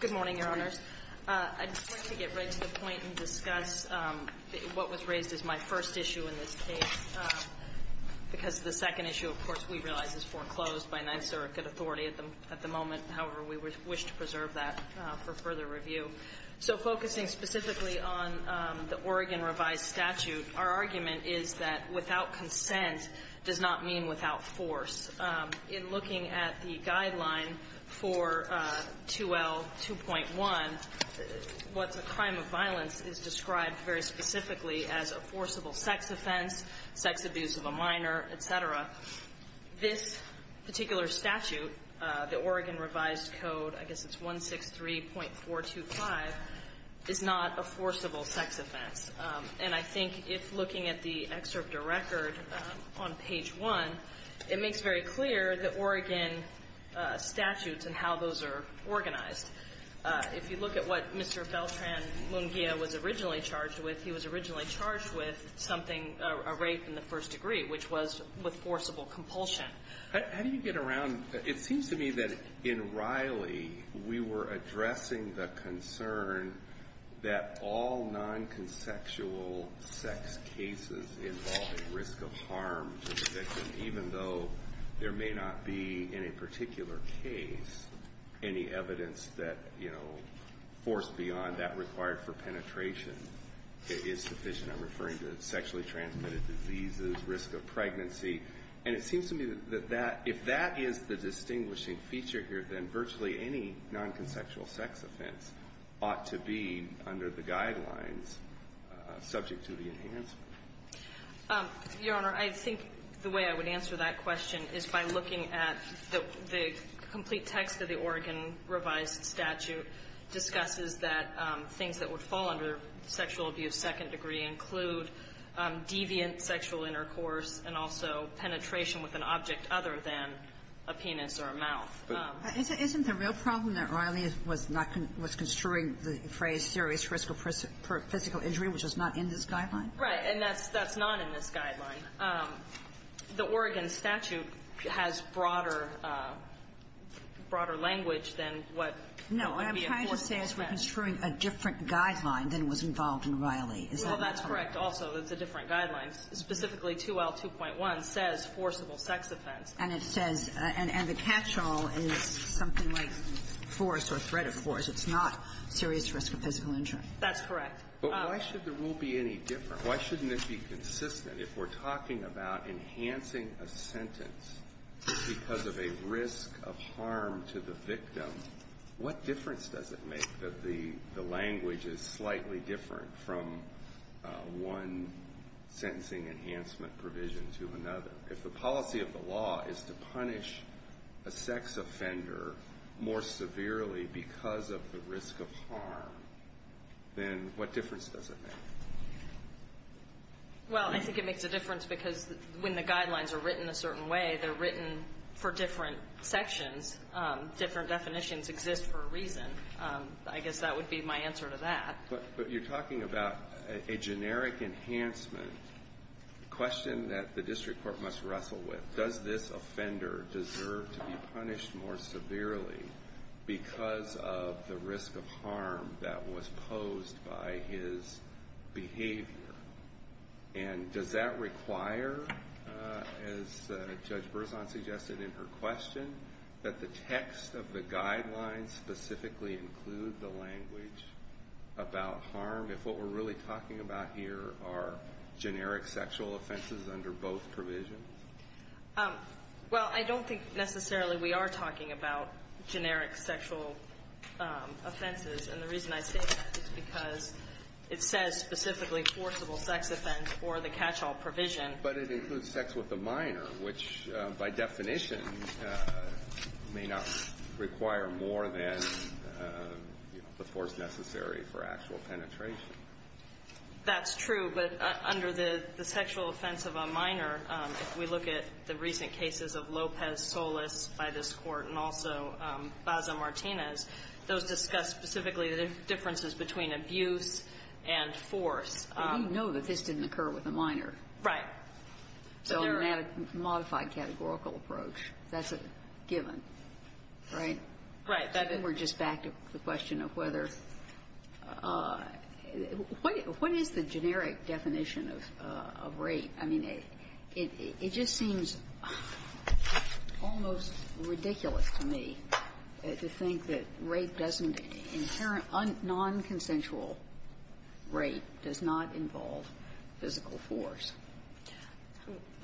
Good morning, Your Honors. I'd like to get right to the point and discuss what was raised as my first issue in this case, because the second issue, of course, we realize is foreclosed by NYSERDA authority at the moment. However, we wish to preserve that for further review. So focusing specifically on the Oregon revised statute, our argument is that without consent does not mean without force. In looking at the guideline for 2L2.1, what's a crime of violence is described very specifically as a forcible sex offense, sex abuse of a minor, etc. This particular statute, the Oregon revised code, I guess it's 163.425, is not a forcible sex offense. And I think if looking at the excerpt of record on page 1, it makes very clear the Oregon statutes and how those are organized. If you look at what Mr. Beltran-Manguia was originally charged with, he was originally charged with something, a rape in the first degree, which was with forcible compulsion. How do you get around, it seems to me that in Riley, we were addressing the concern that all non-consexual sex cases involving risk of harm to the victim, even though there may not be in a particular case any evidence that, you know, force beyond that required for penetration is sufficient? I'm referring to sexually transmitted diseases, risk of pregnancy. And it seems to me that that, if that is the distinguishing feature here, then virtually any non-consexual sex offense ought to be, under the guidelines, subject to the enhancement. Your Honor, I think the way I would answer that question is by looking at the complete text of the Oregon revised statute, discusses that things that would fall under sexual abuse second degree include deviant sexual intercourse and also penetration with an object other than a penis or a mouth. Isn't the real problem that Riley was not going to, was construing the phrase serious risk of physical injury, which is not in this guideline? Right. And that's not in this guideline. The Oregon statute has broader, broader language than what would be a forced sex offense. No. I'm trying to say it's construing a different guideline than was involved in Riley. Well, that's correct also. It's a different guideline. Specifically, 2L2.1 says forcible sex offense. And it says, and the catch-all is something like force or threat of force. It's not serious risk of physical injury. That's correct. But why should the rule be any different? Why shouldn't it be consistent? If we're talking about enhancing a sentence because of a risk of harm to the victim, what difference does it make that the language is slightly different from one sentencing enhancement provision to another? If the policy of the law is to punish a sex offender more severely because of the risk of harm, then what difference does it make? Well, I think it makes a difference because when the guidelines are written a certain way, they're written for different sections. Different definitions exist for a reason. I guess that would be my answer to that. But you're talking about a generic enhancement question that the district court must wrestle with. Does this offender deserve to be punished more severely because of the risk of harm that was posed by his behavior? And does that require, as Judge Berzon suggested in her question, that the text of the guidelines specifically include the language about harm if what we're really talking about here are Well, I don't think necessarily we are talking about generic sexual offenses. And the reason I say that is because it says specifically forcible sex offense or the catch-all provision. But it includes sex with a minor, which, by definition, may not require more than the force necessary for actual penetration. That's true. But under the sexual offense of a minor, if we look at the recent cases of Lopez, Solis by this Court, and also Baza Martinez, those discuss specifically the differences between abuse and force. But we know that this didn't occur with a minor. Right. So a modified categorical approach, that's a given, right? Right. We're just back to the question of whether what is the generic definition of rape? I mean, it just seems almost ridiculous to me to think that rape doesn't, non-consensual rape does not involve physical force.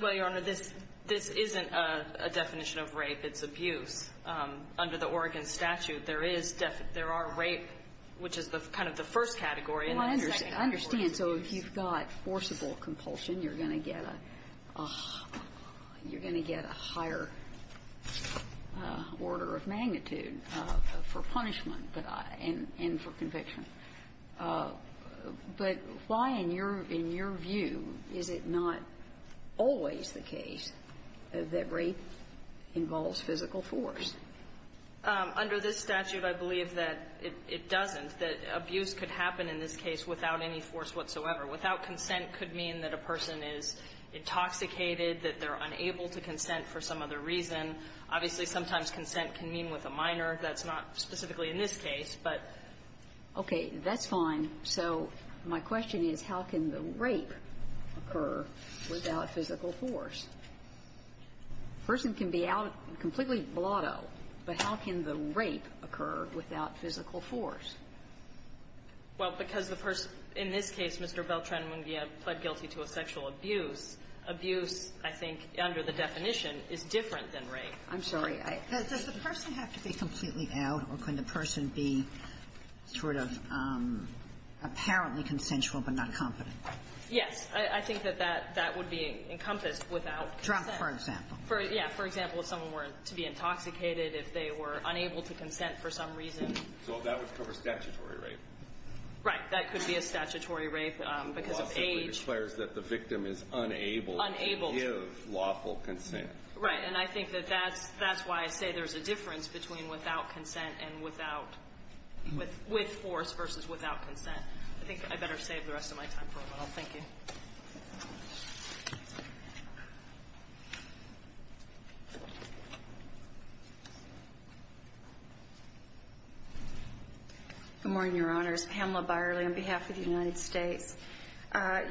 Well, Your Honor, this isn't a definition of rape. It's abuse. Under the Oregon statute, there is definite rape, which is kind of the first category and the second category. Well, I understand. So if you've got forcible compulsion, you're going to get a higher order of magnitude for punishment and for conviction. But why, in your view, is it not always the case that rape involves physical force? Under this statute, I believe that it doesn't, that abuse could happen in this case without any force whatsoever. Without consent could mean that a person is intoxicated, that they're unable to consent for some other reason. Obviously, sometimes consent can mean with a minor. That's not specifically in this case. But okay, that's fine. So my question is, how can the rape occur without physical force? A person can be out completely blotto, but how can the rape occur without physical force? Well, because the person, in this case, Mr. Beltran-Munguia, pled guilty to a sexual abuse. Abuse, I think, under the definition, is different than rape. I'm sorry. Does the person have to be completely out, or can the person be sort of apparently consensual but not competent? Yes. I think that that would be encompassed without consent. Drunk, for example. Yeah. For example, if someone were to be intoxicated, if they were unable to consent for some reason. So that would cover statutory rape. Right. That could be a statutory rape because of age. It also declares that the victim is unable to give lawful consent. Unable. Right. And I think that that's why I say there's a difference between without consent and with force versus without consent. I think I better save the rest of my time for a moment. Thank you. Good morning, Your Honors. Pamela Byerly on behalf of the United States.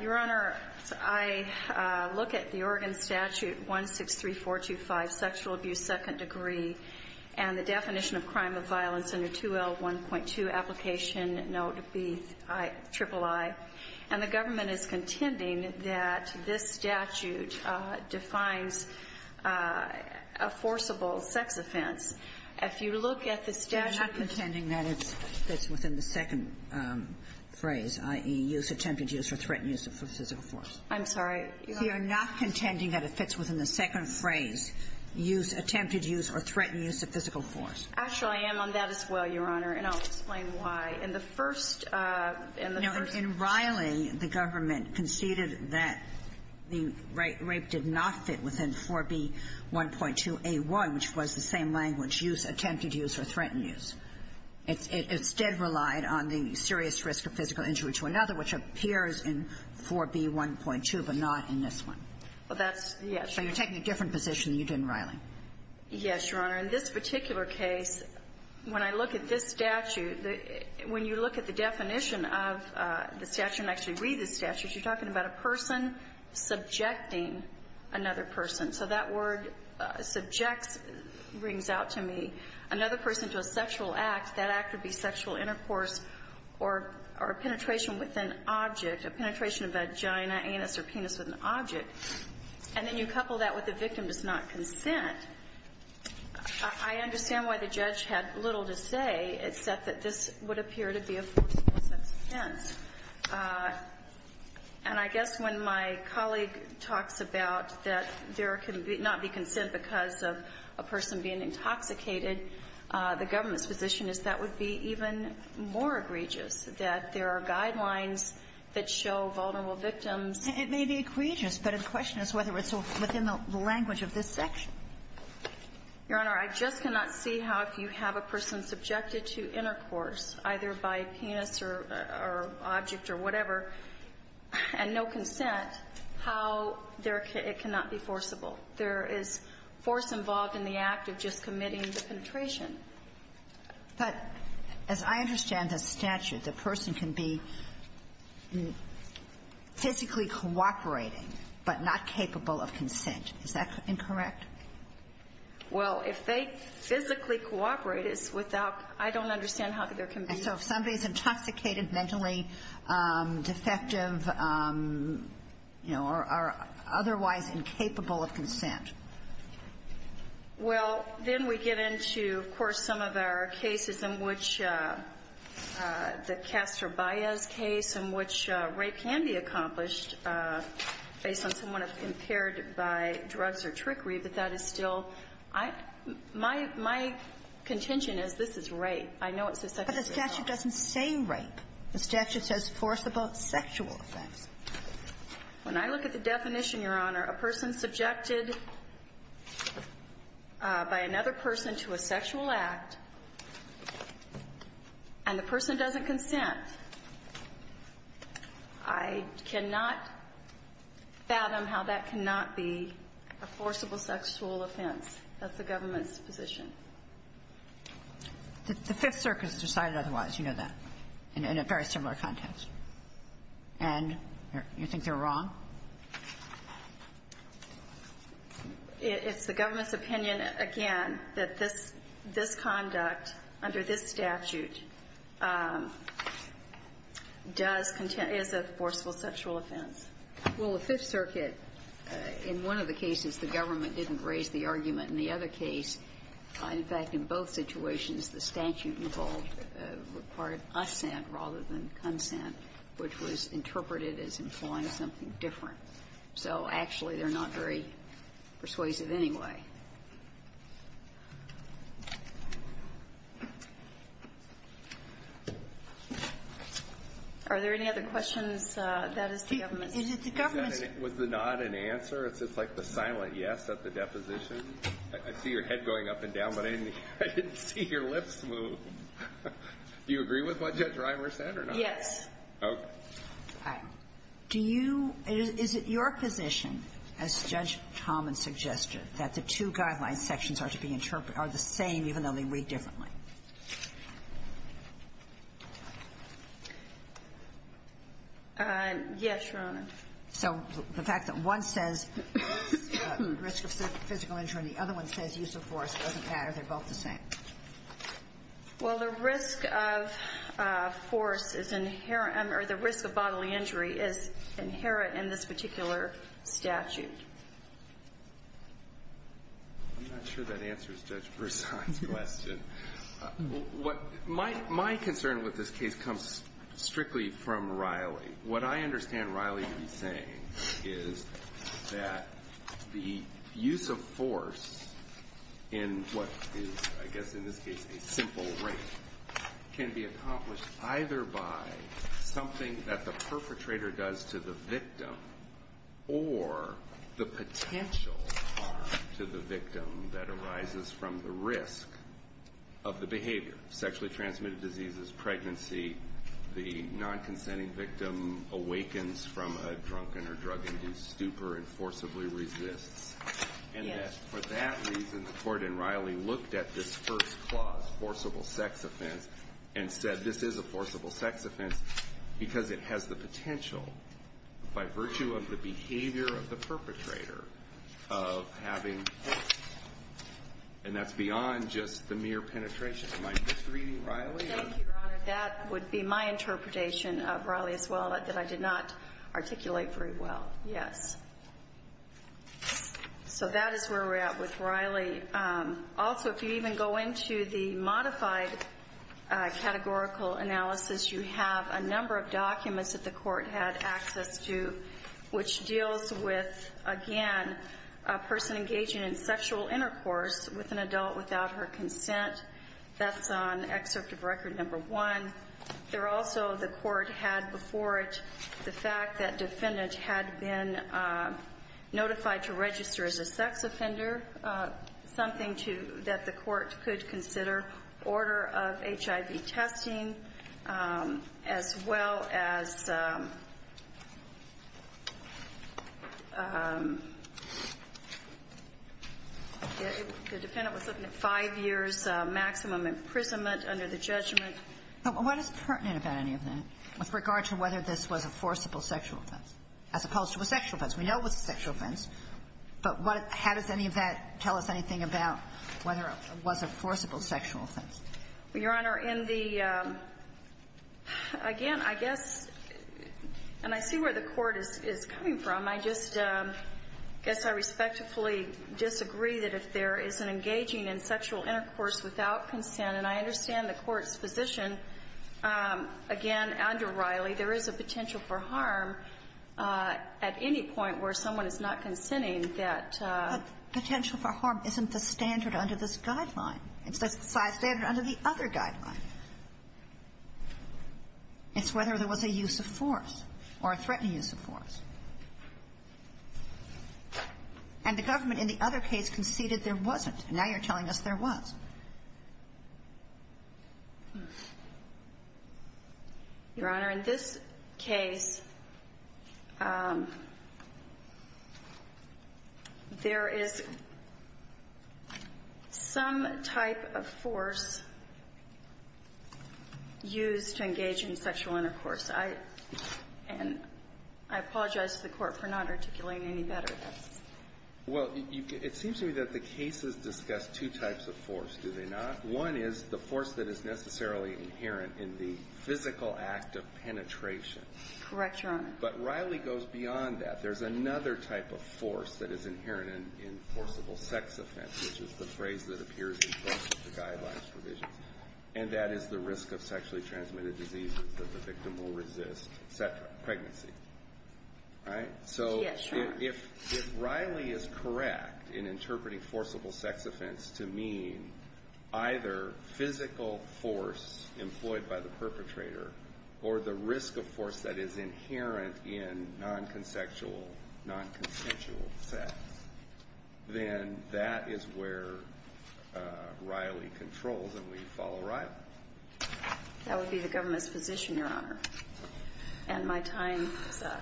Your Honor, I look at the Oregon Statute 163425, sexual abuse second degree, and the definition of crime of violence under 2L1.2, application note BIII, and the government is contending that this statute defines a forcible sex offense. If you look at the statute of the United States, and I'm not contending that it's within the second phrase, i.e., use, attempted use, or threatened use of physical force. I'm sorry. You are not contending that it fits within the second phrase, use, attempted use, or threatened use of physical force. Actually, I am on that as well, Your Honor, and I'll explain why. In the first of the first No, in Riley, the government conceded that the rape did not fit within 4B1.2A1, which was the same language, use, attempted use, or threatened use. It instead relied on the serious risk of physical injury to another, which appears in 4B1.2, but not in this one. Well, that's yes. So you're taking a different position than you did in Riley. Yes, Your Honor. In this particular case, when I look at this statute, when you look at the definition of the statute, and actually read the statute, you're talking about a person subjecting another person. So that word subjects brings out to me another person to a sexual act. That act would be sexual intercourse or penetration with an object, a penetration of vagina, anus, or penis with an object. And then you couple that with the victim does not consent. I understand why the judge had little to say, except that this would appear to be a force of no sense offense. And I guess when my colleague talks about that there can be not be consent because of a person being intoxicated, the government's position is that would be even more egregious, that there are guidelines that show vulnerable victims. It may be egregious, but the question is whether it's within the language of this section. Your Honor, I just cannot see how, if you have a person subjected to intercourse, either by penis or object or whatever, and no consent, how it cannot be forcible. There is force involved in the act of just committing the penetration. But as I understand the statute, the person can be physically cooperating, but not capable of consent. Is that incorrect? Well, if they physically cooperate, it's without – I don't understand how they're And so if somebody's intoxicated, mentally defective, you know, are otherwise incapable of consent. Well, then we get into, of course, some of our cases in which the Castro-Baez case, in which rape can be accomplished based on someone impaired by drugs or trickery, but that is still – my contention is this is rape. I know it's a second-degree crime. But the statute doesn't say rape. The statute says forcible sexual offense. When I look at the definition, Your Honor, a person subjected by another person to a sexual act, and the person doesn't consent, I cannot fathom how that cannot be a forcible sexual offense. That's the government's position. The Fifth Circuit has decided otherwise. You know that, in a very similar context. And you think they're wrong? It's the government's opinion, again, that this conduct under this statute does – is a forcible sexual offense. Well, the Fifth Circuit, in one of the cases, the government didn't raise the argument. In the other case, in fact, in both situations, the statute involved a required assent rather than consent, which was interpreted as employing something different. So actually, they're not very persuasive anyway. Are there any other questions? That is the government's. Is it the government's? Was the nod an answer? It's just like the silent yes at the deposition. I see your head going up and down, but I didn't see your lips move. Do you agree with what Judge Reimer said or not? Yes. Okay. Do you – is it your position, as Judge Tomlin suggested, that the two guidelines sections are to be interpreted – are the same even though they read differently? Yes, Your Honor. So the fact that one says risk of physical injury and the other one says use of force doesn't matter. They're both the same. Well, the risk of force is inherent – or the risk of bodily injury is inherent in this particular statute. I'm not sure that answers Judge Versailles' question. My concern with this case comes strictly from Riley. What I understand Riley to be saying is that the use of force in what is, I guess in this case, a simple rape can be accomplished either by something that the perpetrator does to the victim or the potential harm to the victim that arises from the risk of the behavior sexually transmitted diseases, pregnancy, the non-consenting victim awakens from a drunken or drug-induced stupor and forcibly resists. And for that reason, the Court in Riley looked at this first clause, forcible sex offense, and said this is a forcible sex offense because it has the potential by virtue of the behavior of the perpetrator of having – and that's beyond just the mere penetration. Am I misreading Riley? Thank you, Your Honor. That would be my interpretation of Riley as well that I did not articulate very well. Yes. So that is where we're at with Riley. Also, if you even go into the modified categorical analysis, you have a number of documents that the Court had access to which deals with, again, a person engaging in sexual intercourse with an adult without her consent. That's on excerpt of Record No. 1. There also, the Court had before it the fact that defendant had been notified to register as a sex offender, something that the Court could consider, order of HIV testing, as well as the defendant was looking at five years maximum imprisonment under the judgment. Now, what is pertinent about any of that with regard to whether this was a forcible sexual offense as opposed to a sexual offense? We know it was a sexual offense, but what – how does any of that tell us anything about whether it was a forcible sexual offense? Your Honor, in the – again, I guess – and I see where the Court is coming from. I just – I guess I respectfully disagree that if there is an engaging in sexual intercourse without consent, and I understand the Court's position, again, under Riley, there is a potential for harm at any point where someone is not consenting, that – But potential for harm isn't the standard under this guideline. It's the standard under the other guideline. It's whether there was a use of force or a threatened use of force. And the government in the other case conceded there wasn't. Now you're telling us there was. Your Honor, in this case, there is some type of force used to engage in sexual intercourse. I – and I apologize to the Court for not articulating any better. Well, you – it seems to me that the cases discuss two types of force, do they not? One is the force that is necessarily inherent in the physical act of penetration. Correct, Your Honor. But Riley goes beyond that. There's another type of force that is inherent in forcible sex offense, which is the phrase that appears in most of the guidelines provisions, and that is the risk of sexually transmitted diseases that the victim will resist, et cetera, pregnancy. Right? So if Riley is correct in interpreting forcible sex offense to mean either physical force employed by the perpetrator or the risk of force that is inherent in non-consensual sex, then that is where Riley controls and we follow Riley. That would be the government's position, Your Honor. And my time is up.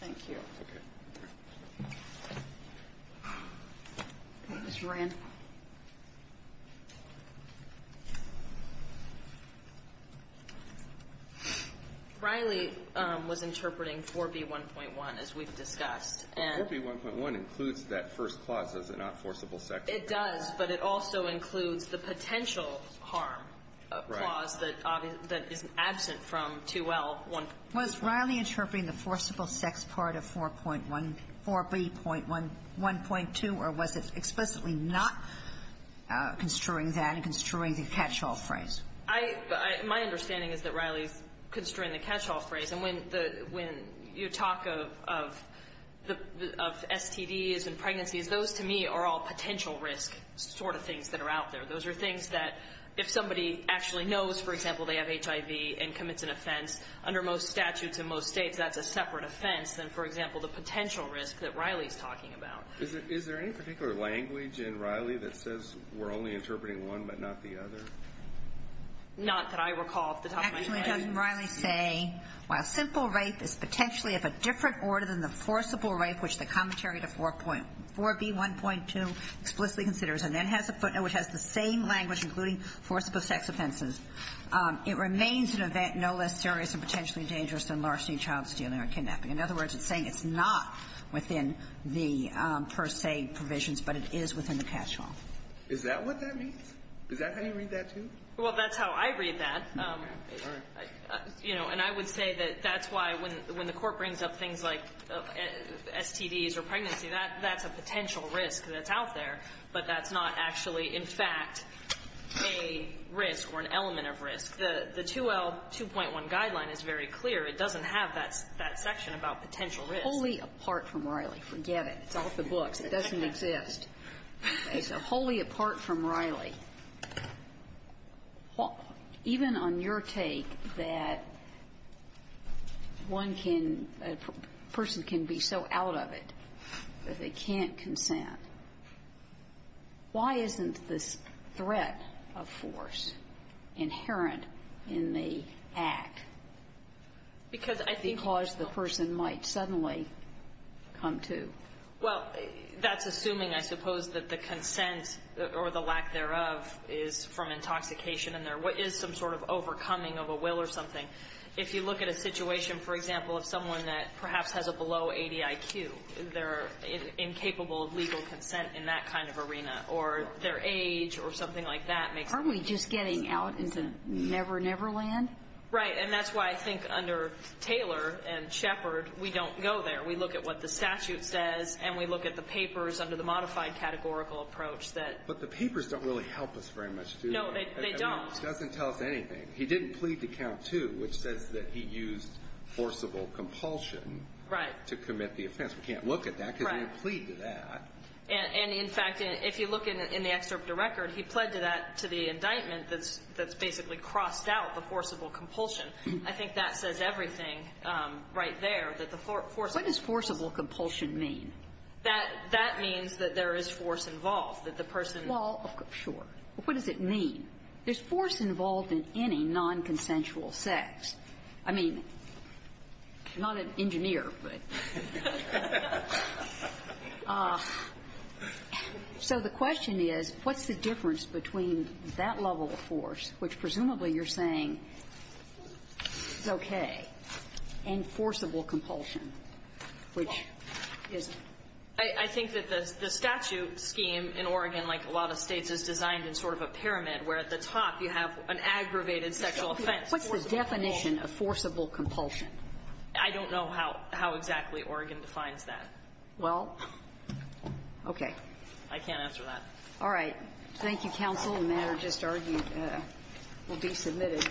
Thank you. Ms. Moran. Riley was interpreting 4B1.1, as we've discussed. 4B1.1 includes that first clause, does it not, forcible sex? It does, but it also includes the potential harm clause that is absent from 2L1. Was Riley interpreting the forcible sex part of 4.1, 4B.1.2, or was it explicitly not construing that and construing the catch-all phrase? I — my understanding is that Riley's construing the catch-all phrase. When you talk of STDs and pregnancies, those to me are all potential risk sort of things that are out there. Those are things that if somebody actually knows, for example, they have HIV and commits an offense, under most statutes in most states that's a separate offense than, for example, the potential risk that Riley's talking about. Is there any particular language in Riley that says we're only interpreting one but not the other? Not that I recall off the top of my head. Judge Riley's saying while simple rape is potentially of a different order than the forcible rape, which the commentary to 4. — 4B1.2 explicitly considers and then has a footnote which has the same language, including forcible sex offenses, it remains an event no less serious and potentially dangerous than larceny, child stealing, or kidnapping. In other words, it's saying it's not within the per se provisions, but it is within the catch-all. Is that what that means? Is that how you read that, too? Well, that's how I read that. You know, and I would say that that's why when the Court brings up things like STDs or pregnancy, that's a potential risk that's out there, but that's not actually, in fact, a risk or an element of risk. The 2L2.1 guideline is very clear. It doesn't have that section about potential risk. Wholly apart from Riley. Forget it. It's off the books. It doesn't exist. It's wholly apart from Riley. Even on your take that one can — a person can be so out of it that they can't consent, why isn't this threat of force inherent in the act? Because I think — Because the person might suddenly come to. Well, that's assuming, I suppose, that the consent or the lack thereof is from intoxication and there is some sort of overcoming of a will or something. If you look at a situation, for example, of someone that perhaps has a below-80 IQ, they're incapable of legal consent in that kind of arena. Or their age or something like that makes — Aren't we just getting out into Never Never Land? Right. And that's why I think under Taylor and Shepard, we don't go there. We look at what the statute says and we look at the papers under the modified categorical approach that — But the papers don't really help us very much, do they? No, they don't. I mean, it doesn't tell us anything. He didn't plead to count two, which says that he used forcible compulsion — Right. — to commit the offense. We can't look at that because he didn't plead to that. And in fact, if you look in the excerpt of the record, he pled to that — to the indictment that's basically crossed out the forcible compulsion. I think that says everything right there, that the forcible — What does forcible compulsion mean? That means that there is force involved, that the person — Well, sure. But what does it mean? There's force involved in any nonconsensual sex. I mean, I'm not an engineer, but. So the question is, what's the difference between that level of force, which presumably you're saying is okay, and forcible compulsion? Which isn't. I think that the statute scheme in Oregon, like a lot of states, is designed in sort of a pyramid, where at the top you have an aggravated sexual offense. What's the definition of forcible compulsion? I don't know how exactly Oregon defines that. Well, okay. I can't answer that. All right. Thank you, counsel. The matter just argued will be submitted.